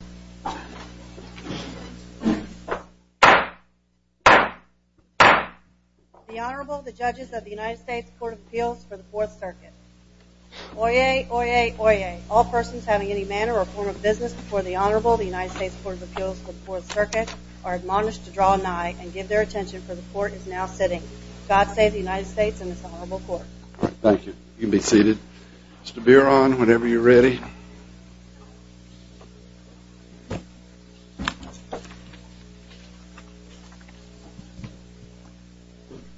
The Honorable, the Judges of the United States Court of Appeals for the Fourth Circuit. Oyez, oyez, oyez. All persons having any manner or form of business before the Honorable, the United States Court of Appeals for the Fourth Circuit, are admonished to draw nigh and give their attention, for the Court is now sitting. God save the United States and this Honorable Court. Thank you. You can be seated. Mr. Biron, whenever you're ready.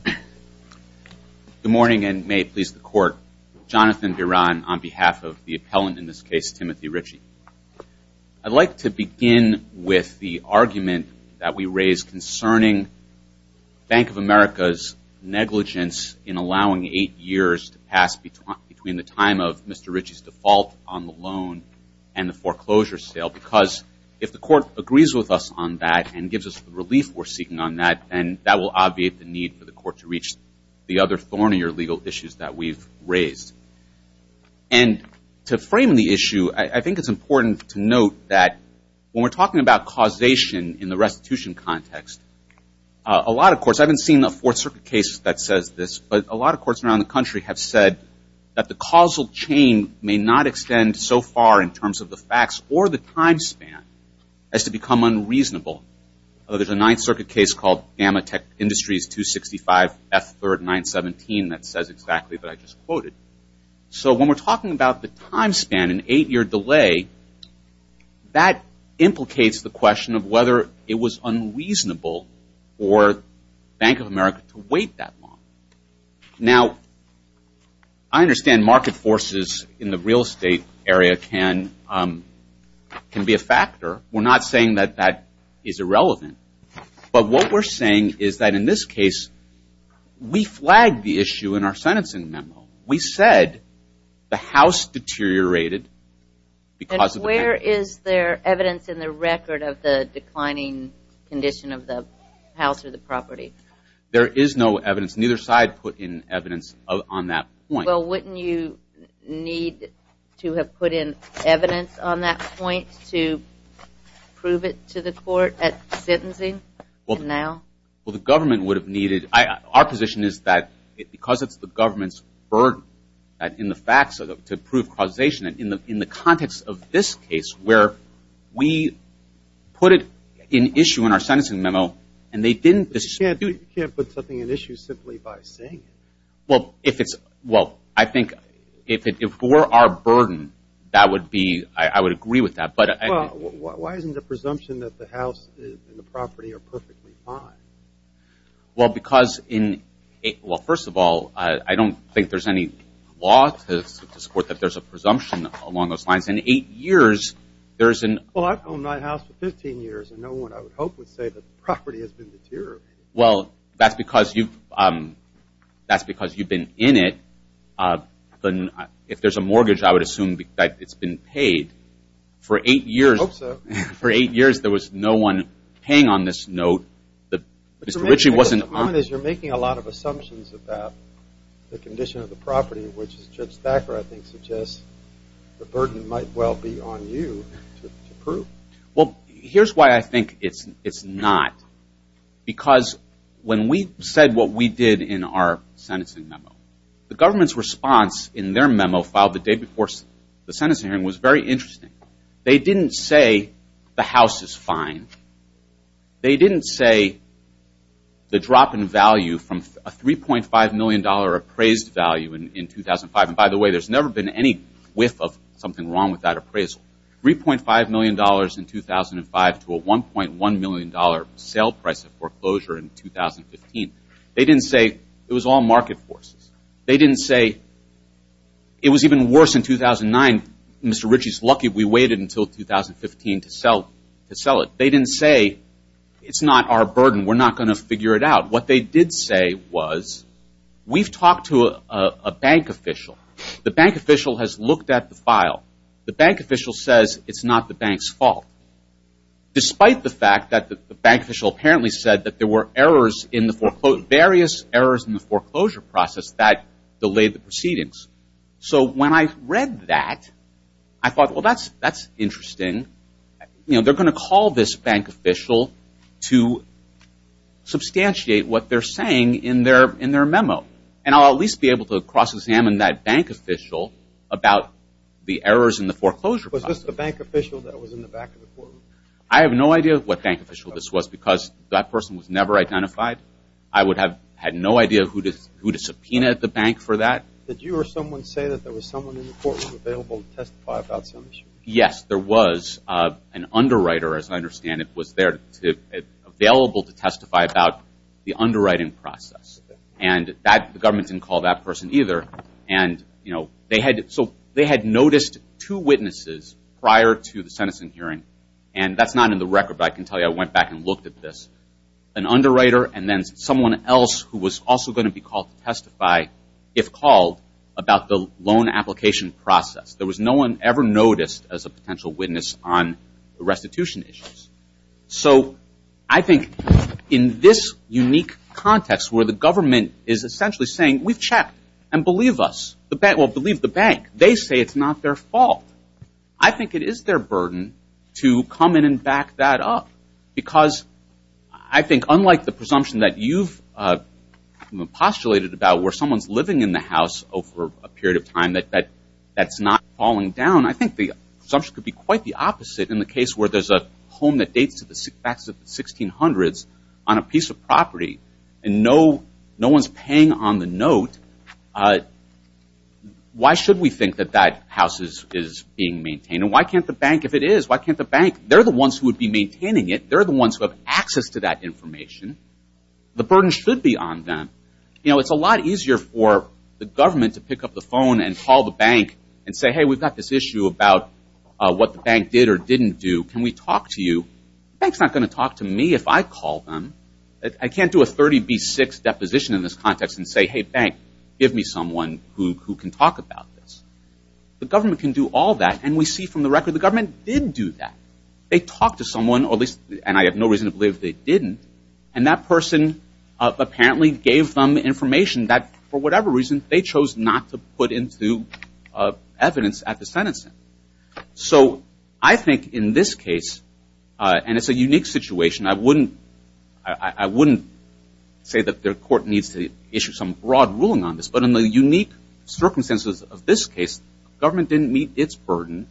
Good morning and may it please the Court. Jonathan Biron on behalf of the appellant in this case, Timothy Ritchie. I'd like to begin with the argument that we raise concerning Bank of America's negligence in allowing eight years to pass between the time of Mr. Ritchie's default on the loan and the foreclosure sale. Because if the Court agrees with us on that and gives us the relief we're seeking on that, then that will obviate the need for the Court to reach the other thornier legal issues that we've raised. And to frame the issue, I think it's important to note that when we're talking about causation in the restitution context, a lot of courts, I haven't seen a Fourth Circuit case that says this, but a lot of courts around the country have said that the causal chain may not extend so far in terms of the facts or the time span as to become unreasonable. There's a Ninth Circuit case called Gamma Tech Industries 265 F3rd 917 that says exactly what I just quoted. So when we're talking about the time span, an eight-year delay, that implicates the question of whether it was unreasonable for Bank of America to wait that long. Now, I understand market forces in the real estate area can be a factor. We're not saying that that is irrelevant. But what we're saying is that in this case, we flagged the issue in our sentencing memo. We said the house deteriorated because of the bank. And where is there evidence in the record of the declining condition of the house or the property? There is no evidence. Neither side put in evidence on that point. Well, wouldn't you need to have put in evidence on that point to prove it to the court at sentencing now? Well, the government would have needed – our position is that because it's the government's burden in the facts to prove causation, in the context of this case where we put it in issue in our sentencing memo and they didn't – But you can't put something in issue simply by saying it. Well, if it's – well, I think if it were our burden, that would be – I would agree with that. But – Well, why isn't the presumption that the house and the property are perfectly fine? Well, because in – well, first of all, I don't think there's any law to support that there's a presumption along those lines. In eight years, there's an – Well, I've owned my house for 15 years, and no one I would hope would say that the property has been deteriorated. Well, that's because you've – that's because you've been in it. If there's a mortgage, I would assume that it's been paid. For eight years – I hope so. For eight years, there was no one paying on this note. Mr. Ritchie wasn't – The point is you're making a lot of assumptions about the condition of the property, which Judge Thacker, I think, suggests the burden might well be on you to prove. Well, here's why I think it's not. Because when we said what we did in our sentencing memo, the government's response in their memo filed the day before the sentencing hearing was very interesting. They didn't say the house is fine. They didn't say the drop in value from a $3.5 million appraised value in 2005 – and by the way, there's never been any whiff of something wrong with that appraisal – $3.5 million in 2005 to a $1.1 million sale price of foreclosure in 2015. They didn't say it was all market forces. They didn't say it was even worse in 2009. Mr. Ritchie is lucky we waited until 2015 to sell it. They didn't say it's not our burden. We're not going to figure it out. What they did say was we've talked to a bank official. The bank official has looked at the file. The bank official says it's not the bank's fault, despite the fact that the bank official apparently said that there were errors in the – various errors in the foreclosure process that delayed the proceedings. So when I read that, I thought, well, that's interesting. They're going to call this bank official to substantiate what they're saying in their memo, and I'll at least be able to cross-examine that bank official about the errors in the foreclosure process. Was this the bank official that was in the back of the courtroom? I have no idea what bank official this was because that person was never identified. I would have had no idea who to subpoena at the bank for that. Did you or someone say that there was someone in the courtroom available to testify about some issue? Yes, there was an underwriter, as I understand it, was there available to testify about the underwriting process, and the government didn't call that person either. And, you know, they had – so they had noticed two witnesses prior to the sentencing hearing, and that's not in the record, but I can tell you I went back and looked at this. There was an underwriter and then someone else who was also going to be called to testify, if called, about the loan application process. There was no one ever noticed as a potential witness on the restitution issues. So I think in this unique context where the government is essentially saying, we've checked, and believe us – well, believe the bank. They say it's not their fault. I think it is their burden to come in and back that up, because I think unlike the presumption that you've postulated about where someone's living in the house over a period of time that's not falling down, I think the assumption could be quite the opposite in the case where there's a home that dates back to the 1600s on a piece of property, and no one's paying on the note. Why should we think that that house is being maintained? And why can't the bank – if it is, why can't the bank – they're the ones who would be maintaining it. They're the ones who have access to that information. The burden should be on them. It's a lot easier for the government to pick up the phone and call the bank and say, hey, we've got this issue about what the bank did or didn't do. Can we talk to you? The bank's not going to talk to me if I call them. I can't do a 30B6 deposition in this context and say, hey, bank, give me someone who can talk about this. The government can do all that, and we see from the record the government didn't do that. They talked to someone, and I have no reason to believe they didn't, and that person apparently gave them information that for whatever reason they chose not to put into evidence at the sentencing. So I think in this case, and it's a unique situation, I wouldn't say that the court needs to issue some broad ruling on this, but in the unique circumstances of this case, government didn't meet its burden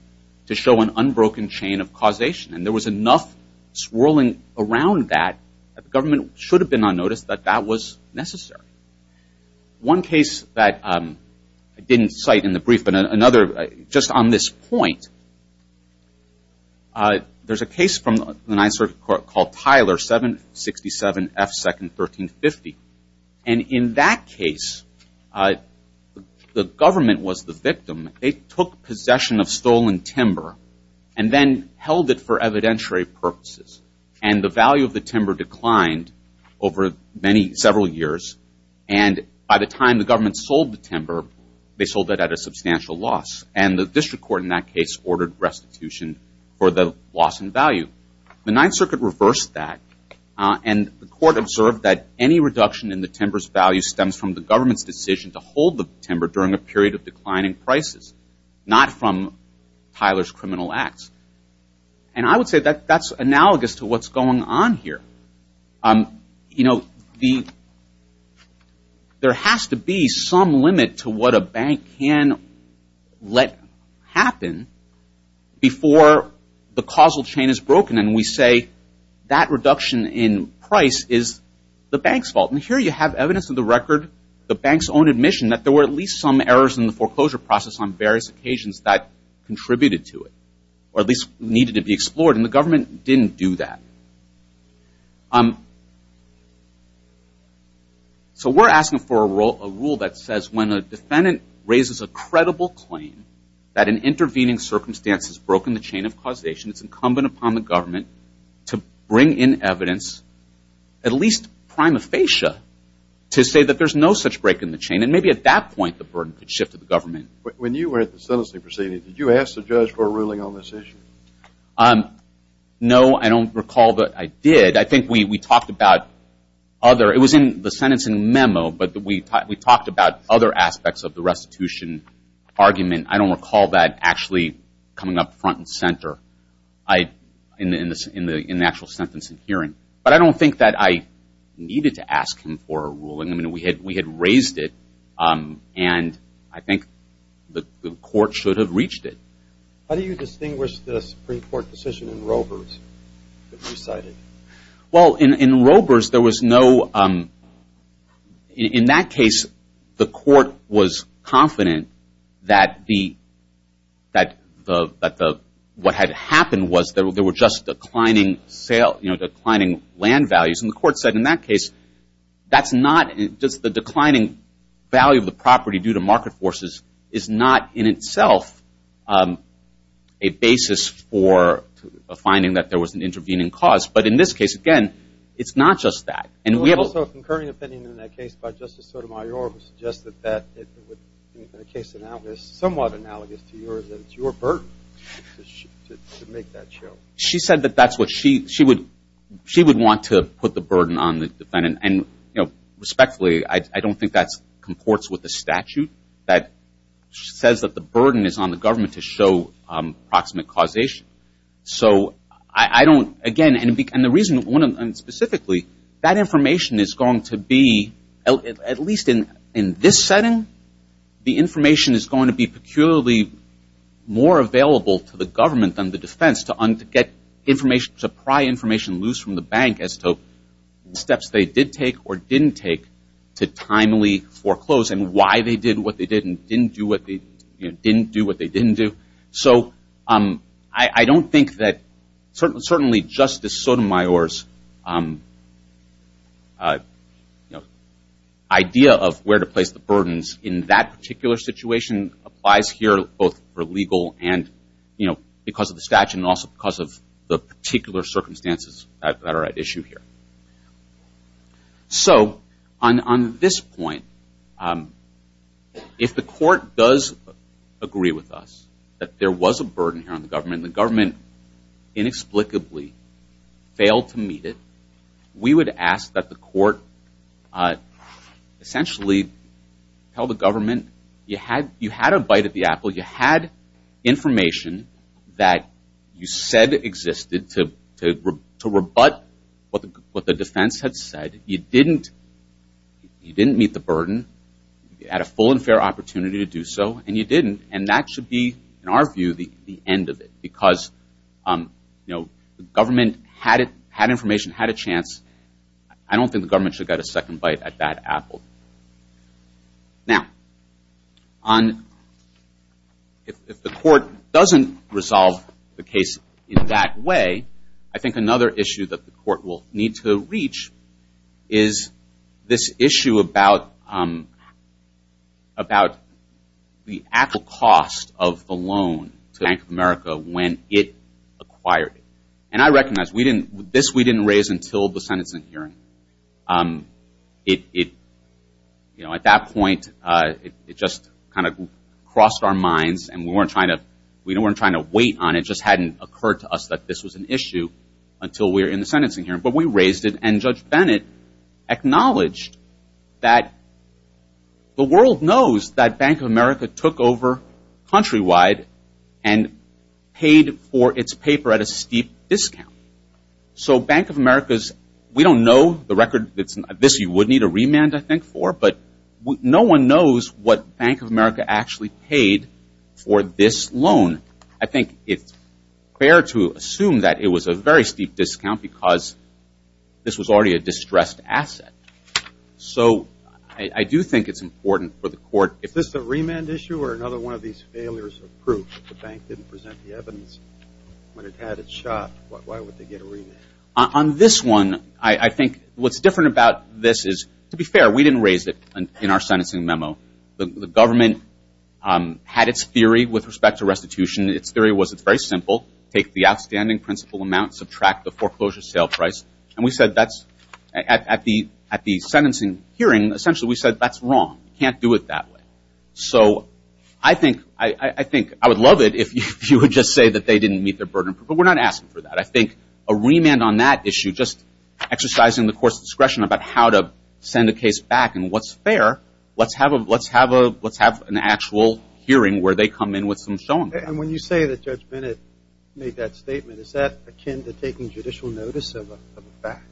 to show an unbroken chain of causation, and there was enough swirling around that that the government should have been on notice that that was necessary. One case that I didn't cite in the brief, but another just on this point, there's a case from the Ninth Circuit Court called Tyler 767 F. Second 1350, and in that case, the government was the victim. They took possession of stolen timber and then held it for evidentiary purposes, and the value of the timber declined over several years, and by the time the government sold the timber, they sold it at a substantial loss, and the district court in that case ordered restitution for the loss in value. The Ninth Circuit reversed that, and the court observed that any reduction in the timber's value stems from the government's decision to hold the timber during a period of declining prices, not from Tyler's criminal acts. And I would say that that's analogous to what's going on here. You know, there has to be some limit to what a bank can let happen before the causal chain is broken, and we say that reduction in price is the bank's fault, and here you have evidence of the record, the bank's own admission that there were at least some errors in the foreclosure process on various occasions that contributed to it, or at least needed to be explored, and the government didn't do that. So we're asking for a rule that says when a defendant raises a credible claim that an intervening circumstance has broken the chain of causation, it's incumbent upon the government to bring in evidence, at least prima facie, to say that there's no such break in the chain, and maybe at that point the burden could shift to the government. When you were at the sentencing proceeding, did you ask the judge for a ruling on this issue? No, I don't recall that I did. I think we talked about other – it was in the sentencing memo, but we talked about other aspects of the restitution argument. I don't recall that actually coming up front and center in the actual sentencing hearing, but I don't think that I needed to ask him for a ruling. I mean, we had raised it, and I think the court should have reached it. How do you distinguish the Supreme Court decision in Rovers that you cited? Well, in Rovers, there was no – in that case, the court was confident that the – what had happened was there were just declining land values, and the court said in that case that's not – just the declining value of the property due to market forces is not in itself a basis for a finding that there was an intervening cause. But in this case, again, it's not just that. And we have also a concurring opinion in that case by Justice Sotomayor, who suggested that it would – in a case that is somewhat analogous to yours, that it's your burden to make that show. She said that that's what she would – she would want to put the burden on the defendant. And respectfully, I don't think that comports with the statute that says that the burden is on the government to show proximate causation. So I don't – again, and the reason – specifically, that information is going to be – at least in this setting, the information is going to be peculiarly more available to the government than the defense to get information – to pry information loose from the bank as to the steps they did take or didn't take to timely foreclose and why they did what they did and didn't do what they – didn't do what they didn't do. So I don't think that – certainly Justice Sotomayor's idea of where to place the burdens in that particular situation applies here both for legal and, you know, because of the statute and also because of the particular circumstances that are at issue here. So on this point, if the court does agree with us that there was a burden here on the government and the government inexplicably failed to meet it, we would ask that the court essentially tell the government you had a bite of the apple. You had information that you said existed to rebut what the defense had said. You didn't meet the burden. You had a full and fair opportunity to do so, and you didn't. And that should be, in our view, the end of it because, you know, the government had information, had a chance. I don't think the government should get a second bite at that apple. Now, if the court doesn't resolve the case in that way, I think another issue that the court will need to reach is this issue about the actual cost of the loan to Bank of America when it acquired it. And I recognize this we didn't raise until the sentencing hearing. It, you know, at that point, it just kind of crossed our minds, and we weren't trying to wait on it. It just hadn't occurred to us that this was an issue until we were in the sentencing hearing. But we raised it, and Judge Bennett acknowledged that the world knows that Bank of America took over Countrywide and paid for its paper at a steep discount. So Bank of America's – we don't know the record. This you would need a remand, I think, for, but no one knows what Bank of America actually paid for this loan. I think it's fair to assume that it was a very steep discount because this was already a distressed asset. So I do think it's important for the court – Is this a remand issue or another one of these failures of proof? If the bank didn't present the evidence when it had its shot, why would they get a remand? On this one, I think what's different about this is, to be fair, we didn't raise it in our sentencing memo. The government had its theory with respect to restitution. Its theory was it's very simple. Take the outstanding principal amount, subtract the foreclosure sale price, and we said that's – at the sentencing hearing, essentially, we said that's wrong. You can't do it that way. So I think – I would love it if you would just say that they didn't meet their burden. But we're not asking for that. I think a remand on that issue, just exercising the court's discretion about how to send a case back, and what's fair, let's have an actual hearing where they come in with some – And when you say that Judge Bennett made that statement, is that akin to taking judicial notice of a fact?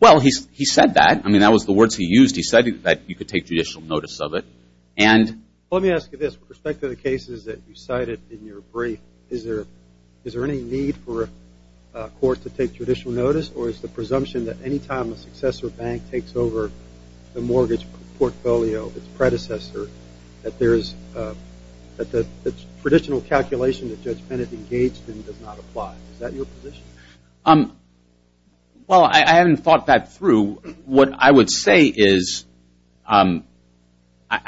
Well, he said that. I mean, that was the words he used. He said that you could take judicial notice of it. Let me ask you this. With respect to the cases that you cited in your brief, is there any need for a court to take judicial notice, or is the presumption that any time a successor bank takes over the mortgage portfolio of its predecessor, that there is – that the traditional calculation that Judge Bennett engaged in does not apply? Is that your position? Well, I haven't thought that through. What I would say is I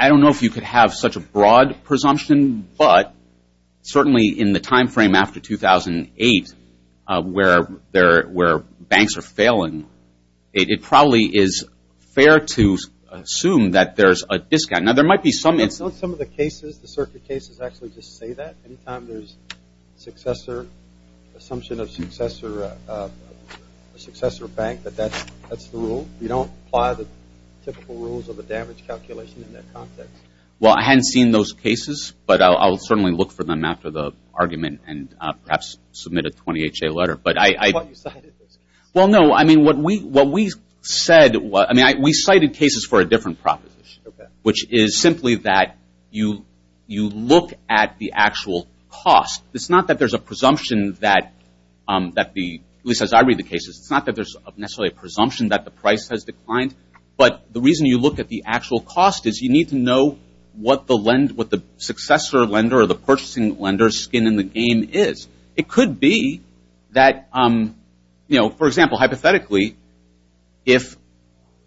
don't know if you could have such a broad presumption, but certainly in the timeframe after 2008 where banks are failing, it probably is fair to assume that there's a discount. Now, there might be some – Some of the cases, the circuit cases, actually just say that. Any time there's successor – assumption of successor bank, that that's the rule? You don't apply the typical rules of a damage calculation in that context? Well, I hadn't seen those cases, but I'll certainly look for them after the argument and perhaps submit a 20HA letter. But I – Is that why you cited those cases? Well, no. I mean, what we said – I mean, we cited cases for a different proposition, which is simply that you look at the actual cost. It's not that there's a presumption that the – at least as I read the cases, it's not that there's necessarily a presumption that the price has declined, but the reason you look at the actual cost is you need to know what the lend – what the successor lender or the purchasing lender's skin in the game is. It could be that, you know, for example, hypothetically, if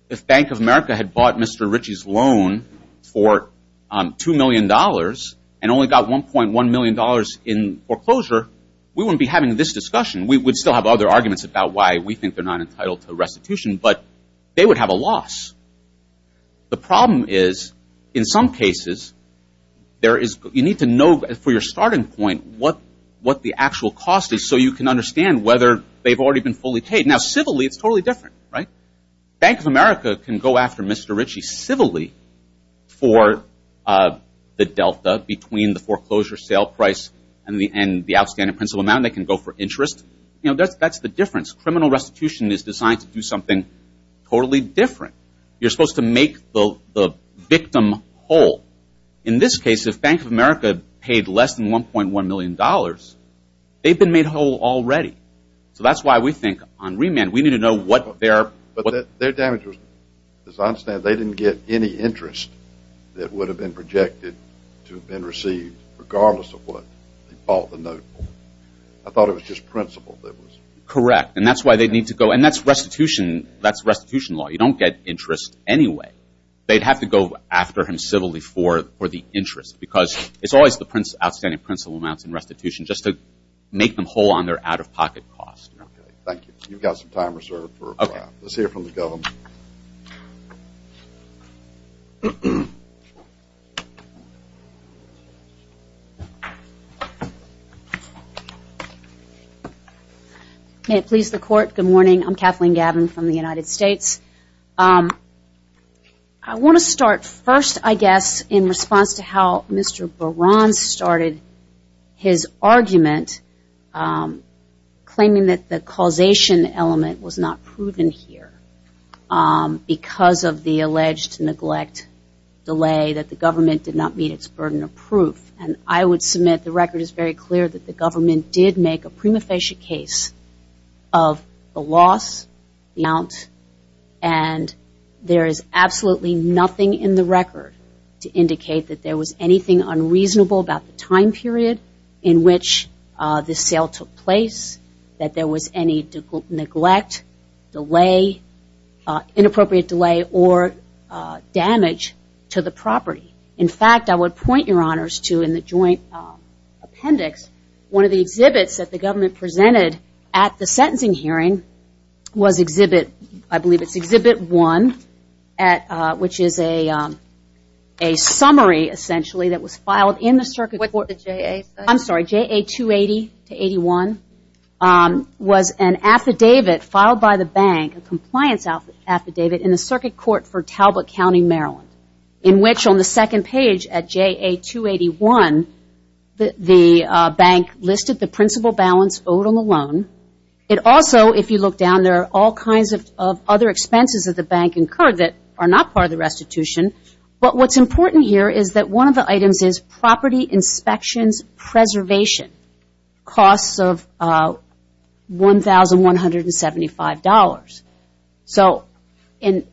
the Bank of America had bought Mr. Ritchie's loan for $2 million and only got $1.1 million in foreclosure, we wouldn't be having this discussion. We would still have other arguments about why we think they're not entitled to restitution, but they would have a loss. The problem is, in some cases, there is – you need to know for your starting point what the actual cost is so you can understand whether they've already been fully paid. Now, civilly, it's totally different, right? Bank of America can go after Mr. Ritchie civilly for the delta between the foreclosure sale price and the outstanding principal amount. They can go for interest. You know, that's the difference. Criminal restitution is designed to do something totally different. You're supposed to make the victim whole. In this case, if Bank of America paid less than $1.1 million, they've been made whole already. So that's why we think on remand we need to know what their – But their damage was – as I understand, they didn't get any interest that would have been projected to have been received, regardless of what they bought the note for. I thought it was just principal that was – Correct, and that's why they'd need to go – and that's restitution law. You don't get interest anyway. They'd have to go after him civilly for the interest because it's always the outstanding principal amounts in restitution just to make them whole on their out-of-pocket costs. Okay, thank you. You've got some time reserved for – Okay. Let's hear from the government. May it please the Court, good morning. I'm Kathleen Gabbin from the United States. I want to start first, I guess, in response to how Mr. Baran started his argument claiming that the causation element was not proven here because of the alleged neglect delay that the government did not meet its burden of proof. And I would submit the record is very clear that the government did make a prima facie case of the loss, the amount, and there is absolutely nothing in the record to indicate that there was anything unreasonable about the time period in which this sale took place, that there was any neglect, delay, inappropriate delay or damage to the property. In fact, I would point your honors to in the joint appendix, one of the exhibits that the government presented at the sentencing hearing was exhibit, I believe it's exhibit one, which is a summary, essentially, that was filed in the circuit court. What did JA say? I'm sorry, JA 280-81 was an affidavit filed by the bank, a compliance affidavit in the circuit court for Talbot County, Maryland, in which on the second page at JA 281, the bank listed the principal balance owed on the loan. It also, if you look down, there are all kinds of other expenses that the bank incurred that are not part of the restitution, but what's important here is that one of the items is property inspections preservation, costs of $1,175. So in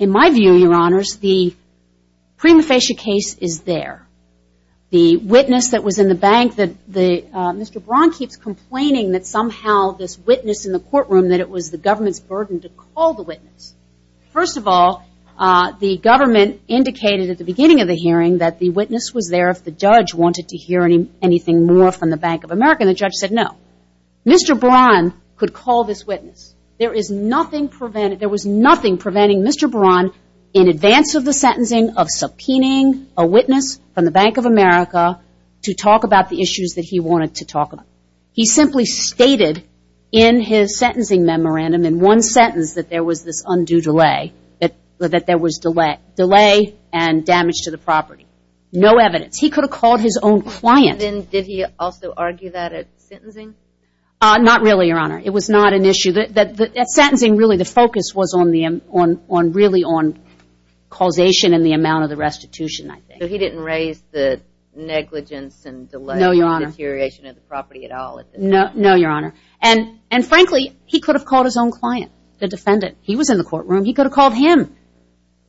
my view, your honors, the prima facie case is there. The witness that was in the bank, Mr. Braun keeps complaining that somehow this witness in the courtroom, that it was the government's burden to call the witness. First of all, the government indicated at the beginning of the hearing that the witness was there if the judge wanted to hear anything more from the Bank of America, and the judge said no. Mr. Braun could call this witness. There was nothing preventing Mr. Braun in advance of the sentencing of subpoenaing a witness from the Bank of America to talk about the issues that he wanted to talk about. He simply stated in his sentencing memorandum in one sentence that there was this undue delay, that there was delay and damage to the property. No evidence. He could have called his own client. And then did he also argue that at sentencing? Not really, your honor. It was not an issue. At sentencing, really, the focus was really on causation and the amount of the restitution, I think. So he didn't raise the negligence and delay or deterioration of the property at all? No, your honor. And frankly, he could have called his own client, the defendant. He could have called him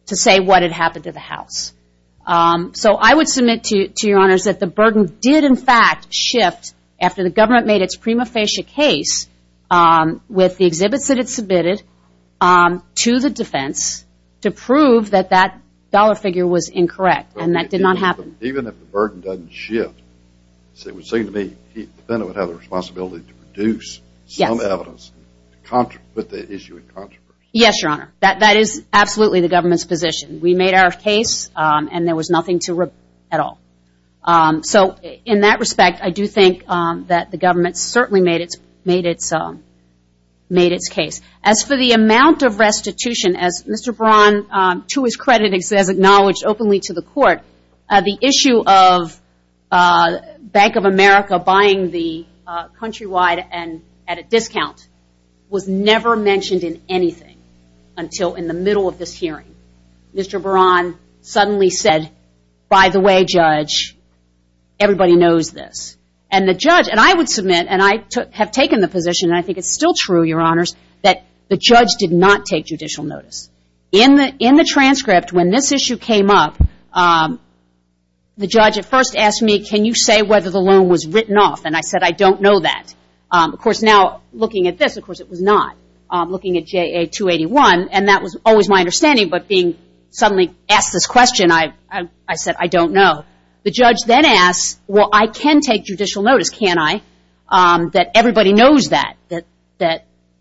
to say what had happened to the house. So I would submit to your honors that the burden did in fact shift after the government made its prima facie case with the exhibits that it submitted to the defense to prove that that dollar figure was incorrect. And that did not happen. Even if the burden doesn't shift, it would seem to me the defendant would have the responsibility to produce some evidence to put the issue in controversy. Yes, your honor. That is absolutely the government's position. We made our case and there was nothing to rebut at all. So in that respect, I do think that the government certainly made its case. As for the amount of restitution, as Mr. Braun, to his credit, has acknowledged openly to the court, the issue of Bank of America buying the Countrywide at a discount was never mentioned in anything until in the middle of this hearing. Mr. Braun suddenly said, by the way, judge, everybody knows this. And the judge, and I would submit, and I have taken the position, and I think it's still true, your honors, that the judge did not take judicial notice. In the transcript when this issue came up, the judge at first asked me, can you say whether the loan was written off? And I said, I don't know that. Of course, now looking at this, of course it was not. Looking at JA 281, and that was always my understanding, but being suddenly asked this question, I said, I don't know. The judge then asked, well, I can take judicial notice, can't I, that everybody knows that, that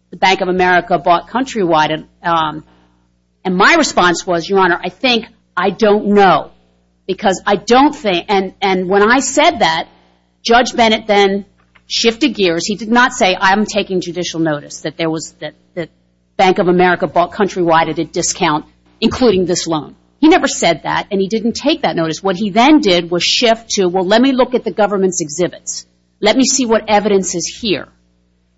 the Bank of America bought Countrywide. And my response was, your honor, I think I don't know, because I don't think, and when I said that, Judge Bennett then shifted gears. He did not say, I'm taking judicial notice, that Bank of America bought Countrywide at a discount, including this loan. He never said that, and he didn't take that notice. What he then did was shift to, well, let me look at the government's exhibits. Let me see what evidence is here.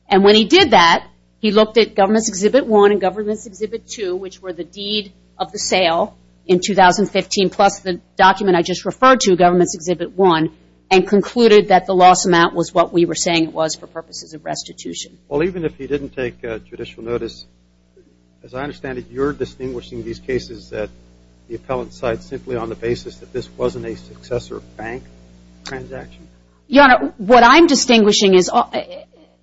And when he did that, he looked at government's exhibit one and government's exhibit two, which were the deed of the sale in 2015, plus the document I just referred to, government's exhibit one, and concluded that the loss amount was what we were saying it was for purposes of restitution. Well, even if he didn't take judicial notice, as I understand it, you're distinguishing these cases that the appellant cites simply on the basis that this wasn't a successor bank transaction? Your honor, what I'm distinguishing is,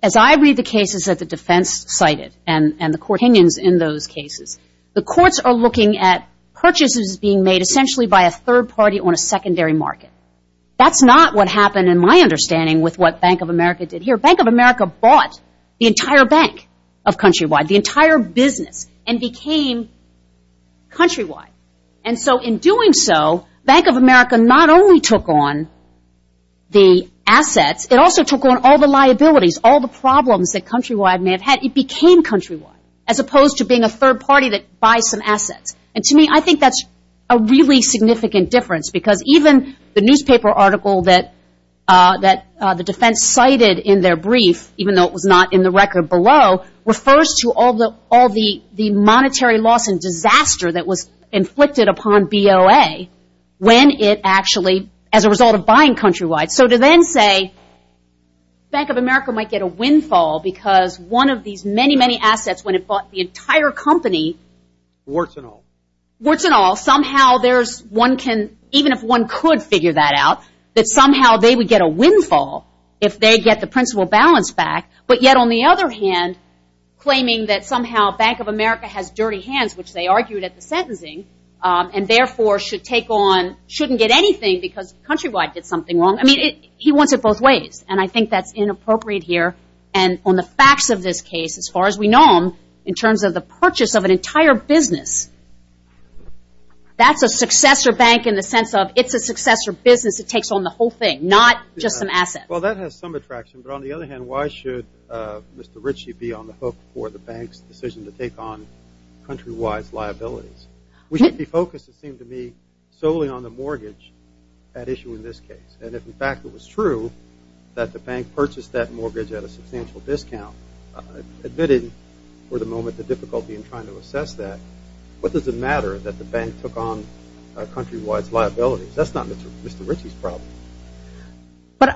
as I read the cases that the defense cited and the court opinions in those cases, the courts are looking at purchases being made essentially by a third party on a secondary market. That's not what happened in my understanding with what Bank of America did here. Bank of America bought the entire bank of Countrywide, the entire business, and became Countrywide. And so in doing so, Bank of America not only took on the assets, it also took on all the liabilities, all the problems that Countrywide may have had. It became Countrywide, as opposed to being a third party that buys some assets. And to me, I think that's a really significant difference because even the newspaper article that the defense cited in their brief, even though it was not in the record below, refers to all the monetary loss and disaster that was inflicted upon BOA when it actually, as a result of buying Countrywide. So to then say Bank of America might get a windfall because one of these many, many assets, when it bought the entire company. Warts and all. Warts and all. Somehow there's one can, even if one could figure that out, that somehow they would get a windfall if they get the principal balance back. But yet on the other hand, claiming that somehow Bank of America has dirty hands, which they argued at the sentencing, and therefore should take on, shouldn't get anything because Countrywide did something wrong. I mean, he wants it both ways. And I think that's inappropriate here. And on the facts of this case, as far as we know them, in terms of the purchase of an entire business, that's a successor bank in the sense of it's a successor business. It takes on the whole thing, not just an asset. Well, that has some attraction. But on the other hand, why should Mr. Ritchie be on the hook for the bank's decision to take on Countrywide's liabilities? We should be focused, it seems to me, solely on the mortgage at issue in this case. And if in fact it was true that the bank purchased that mortgage at a substantial discount, admitted for the moment the difficulty in trying to assess that, what does it matter that the bank took on Countrywide's liabilities? That's not Mr. Ritchie's problem.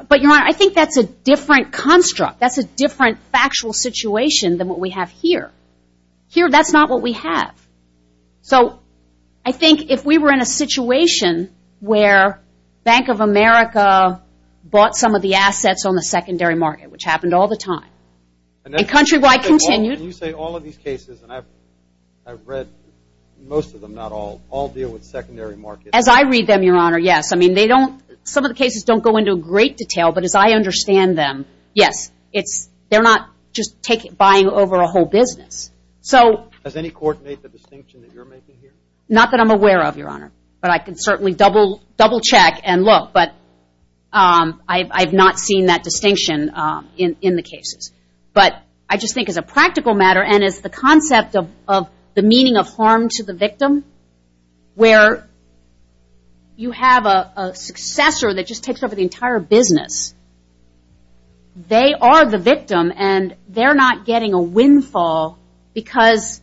But, Your Honor, I think that's a different construct. That's a different factual situation than what we have here. Here that's not what we have. So I think if we were in a situation where Bank of America bought some of the And Countrywide continued. You say all of these cases, and I've read most of them, not all, all deal with secondary markets. As I read them, Your Honor, yes. I mean, some of the cases don't go into great detail. But as I understand them, yes. They're not just buying over a whole business. Does any court make the distinction that you're making here? Not that I'm aware of, Your Honor. But I can certainly double-check and look. But I have not seen that distinction in the cases. But I just think as a practical matter and as the concept of the meaning of harm to the victim, where you have a successor that just takes over the entire business. They are the victim, and they're not getting a windfall because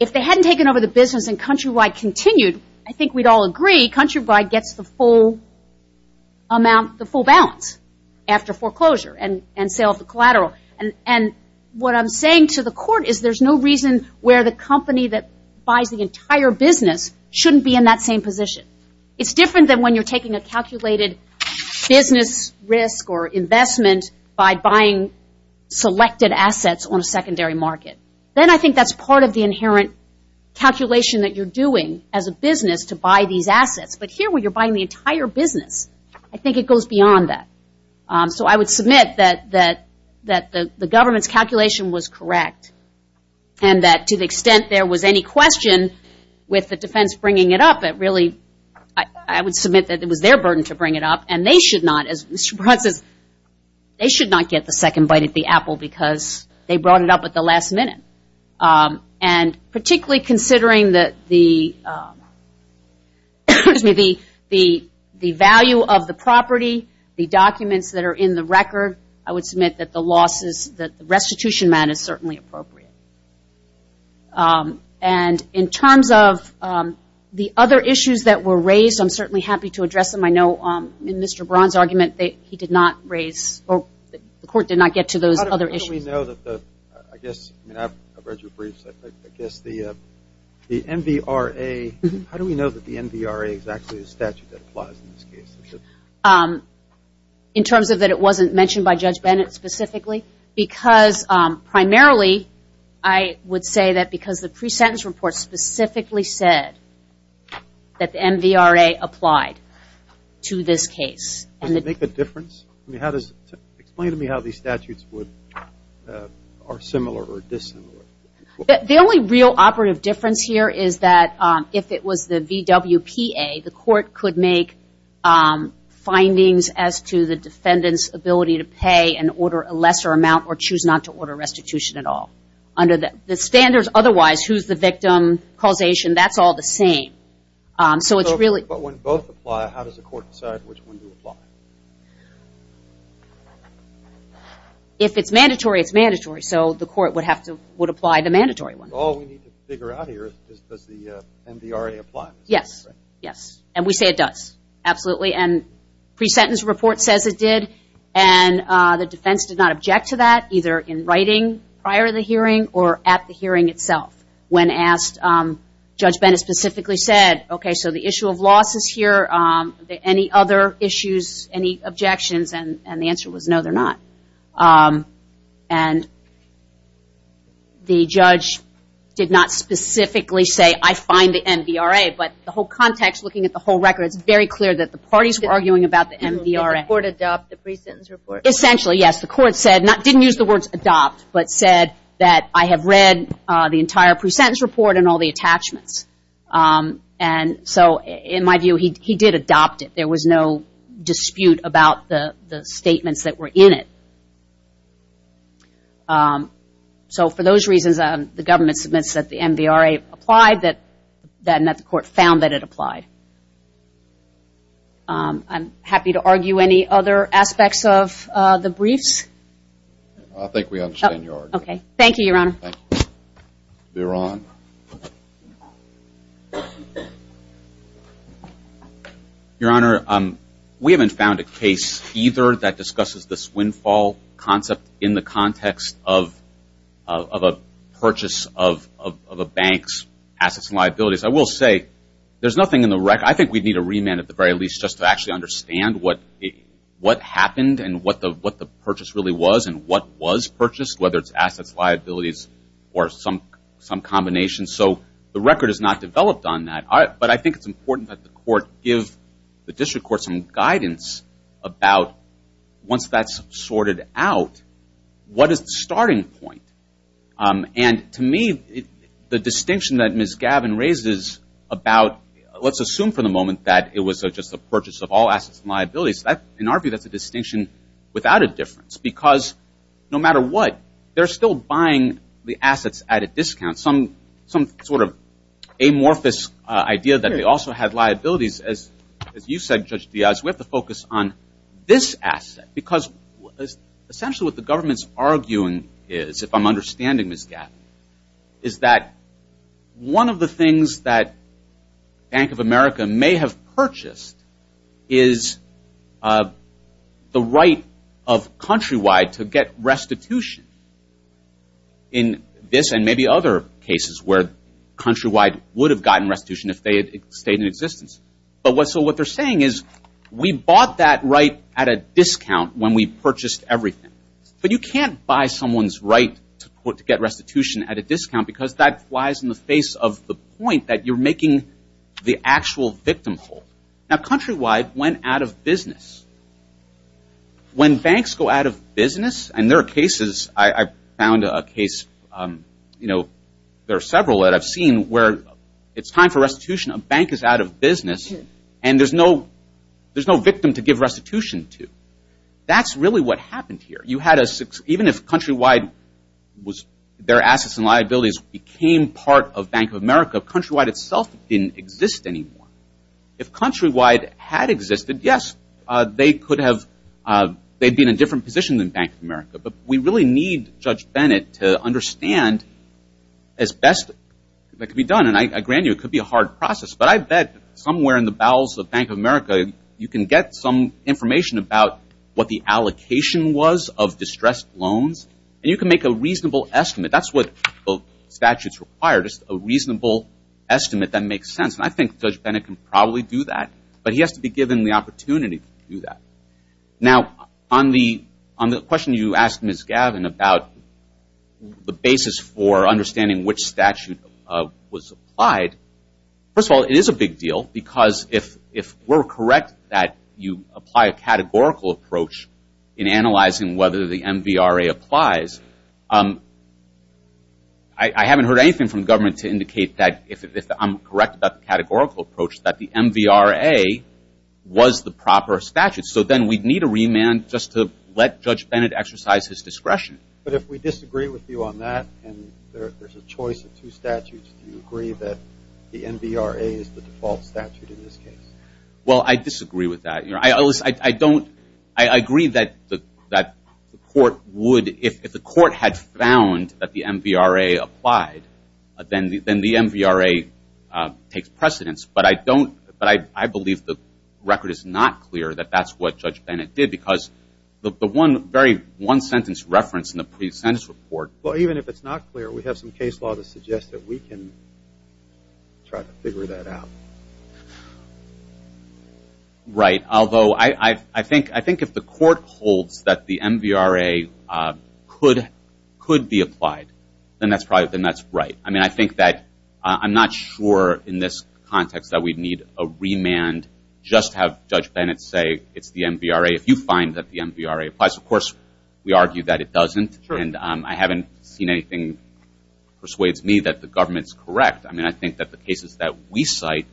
if they hadn't taken over the business and Countrywide continued, I think we'd all agree Countrywide gets the full amount, the full balance after foreclosure and sale of the collateral. And what I'm saying to the court is there's no reason where the company that buys the entire business shouldn't be in that same position. It's different than when you're taking a calculated business risk or investment by buying selected assets on a secondary market. Then I think that's part of the inherent calculation that you're doing as a business to buy these assets. But here where you're buying the entire business, I think it goes beyond that. So I would submit that the government's calculation was correct and that to the extent there was any question with the defense bringing it up, I would submit that it was their burden to bring it up. And they should not, as Mr. Braun says, they should not get the second bite of the apple because they brought it up at the last minute. And particularly considering the value of the property, the documents that are in the record, I would submit that the restitution mat is certainly appropriate. And in terms of the other issues that were raised, I'm certainly happy to address them. I know in Mr. Braun's argument he did not raise, the court did not get to those other issues. How do we know that the, I guess, I've read your briefs, I guess the MVRA, how do we know that the MVRA is actually a statute that applies in this case? In terms of that it wasn't mentioned by Judge Bennett specifically? Because primarily I would say that because the pre-sentence report specifically said that the MVRA applied to this case. Does it make a difference? Explain to me how these statutes are similar or dissimilar. The only real operative difference here is that if it was the VWPA, the court could make findings as to the defendant's ability to pay and order a lesser amount or choose not to order restitution at all. Under the standards otherwise, who's the victim, causation, that's all the same. But when both apply, how does the court decide which one to apply? If it's mandatory, it's mandatory. So the court would apply the mandatory one. All we need to figure out here is does the MVRA apply? Yes, yes. And we say it does. Absolutely. And pre-sentence report says it did. And the defense did not object to that, either in writing prior to the hearing or at the hearing itself. When asked, Judge Bennett specifically said, okay, so the issue of loss is here. Any other issues, any objections? And the answer was no, they're not. And the judge did not specifically say, I find the MVRA. But the whole context, looking at the whole record, it's very clear that the parties were arguing about the MVRA. Did the court adopt the pre-sentence report? Essentially, yes. The court said, didn't use the words adopt, but said that I have read the entire pre-sentence report and all the attachments. And so in my view, he did adopt it. There was no dispute about the statements that were in it. So for those reasons, the government submits that the MVRA applied, and that the court found that it applied. I'm happy to argue any other aspects of the briefs. I think we understand your argument. Okay. Thank you, Your Honor. You're on. Your Honor, we haven't found a case either that discusses this windfall concept in the context of a purchase of a bank's assets and liabilities. I will say, there's nothing in the record. I think we'd need a remand at the very least just to actually understand what happened and what the purchase really was and what was purchased, whether it's assets, liabilities, or some combination. So the record is not developed on that. But I think it's important that the court give the district court some guidance about once that's sorted out, what is the starting point? And to me, the distinction that Ms. Gavin raises about let's assume for the moment that it was just a purchase of all assets and liabilities, in our view, that's a distinction without a difference because no matter what, they're still buying the assets at a discount, some sort of amorphous idea that they also had liabilities. As you said, Judge Diaz, we have to focus on this asset because essentially what the government's arguing is, if I'm understanding Ms. Gavin, is that one of the things that Bank of America may have purchased is the right of Countrywide to get restitution in this and maybe other cases where Countrywide would have gotten restitution if they had stayed in existence. So what they're saying is, we bought that right at a discount when we purchased everything. But you can't buy someone's right to get restitution at a discount because that lies in the face of the point that you're making the actual victim hold. Now, Countrywide went out of business. When banks go out of business, and there are cases, I found a case, there are several that I've seen where it's time for restitution, a bank is out of business, and there's no victim to give restitution to. That's really what happened here. Even if Countrywide, their assets and liabilities became part of Bank of America, Countrywide itself didn't exist anymore. If Countrywide had existed, yes, they'd be in a different position than Bank of America. But we really need Judge Bennett to understand as best that can be done. And I grant you, it could be a hard process. But I bet somewhere in the bowels of Bank of America, you can get some information about what the allocation was of distressed loans, and you can make a reasonable estimate. That's what the statutes require, just a reasonable estimate that makes sense. And I think Judge Bennett can probably do that. But he has to be given the opportunity to do that. Now, on the question you asked Ms. Gavin about the basis for understanding which statute was applied, first of all, it is a big deal because if we're correct that you apply a categorical approach in analyzing whether the MVRA applies, I haven't heard anything from government to indicate that, if I'm correct about the categorical approach, that the MVRA was the proper statute. So then we'd need a remand just to let Judge Bennett exercise his discretion. But if we disagree with you on that and there's a choice of two statutes, do you agree that the MVRA is the default statute in this case? Well, I disagree with that. I agree that the court would, if the court had found that the MVRA applied, then the MVRA takes precedence. But I believe the record is not clear that that's what Judge Bennett did because the one sentence reference in the pre-sentence report. Well, even if it's not clear, we have some case law that suggests that we can try to figure that out. Right, although I think if the court holds that the MVRA could be applied, then that's right. I mean, I think that I'm not sure in this context that we'd need a remand just to have Judge Bennett say it's the MVRA. If you find that the MVRA applies, of course, we argue that it doesn't. Sure. And I haven't seen anything that persuades me that the government's correct. I mean, I think that the cases that we cite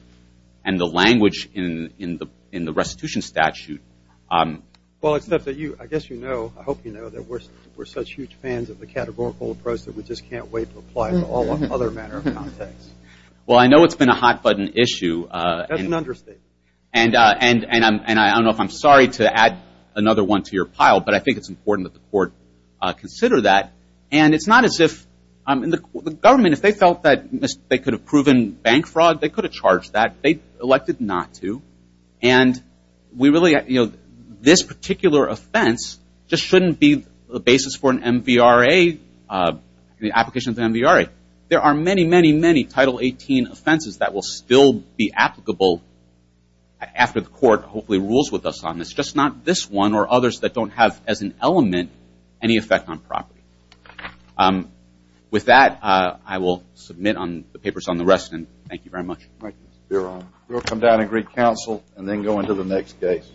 and the language in the restitution statute. Well, except that I guess you know, I hope you know, that we're such huge fans of the categorical approach that we just can't wait to apply it to all other matters. Well, I know it's been a hot-button issue. That's an understatement. And I don't know if I'm sorry to add another one to your pile, but I think it's important that the court consider that. And it's not as if the government, if they felt that they could have proven bank fraud, they could have charged that. They elected not to. And we really, you know, this particular offense just shouldn't be the basis for an MVRA, the application of the MVRA. There are many, many, many Title 18 offenses that will still be applicable after the court hopefully rules with us on this. Just not this one or others that don't have as an element any effect on property. With that, I will submit on the papers on the rest and thank you very much. Thank you, Mr. Fearon. We'll come down and greet counsel and then go into the next case.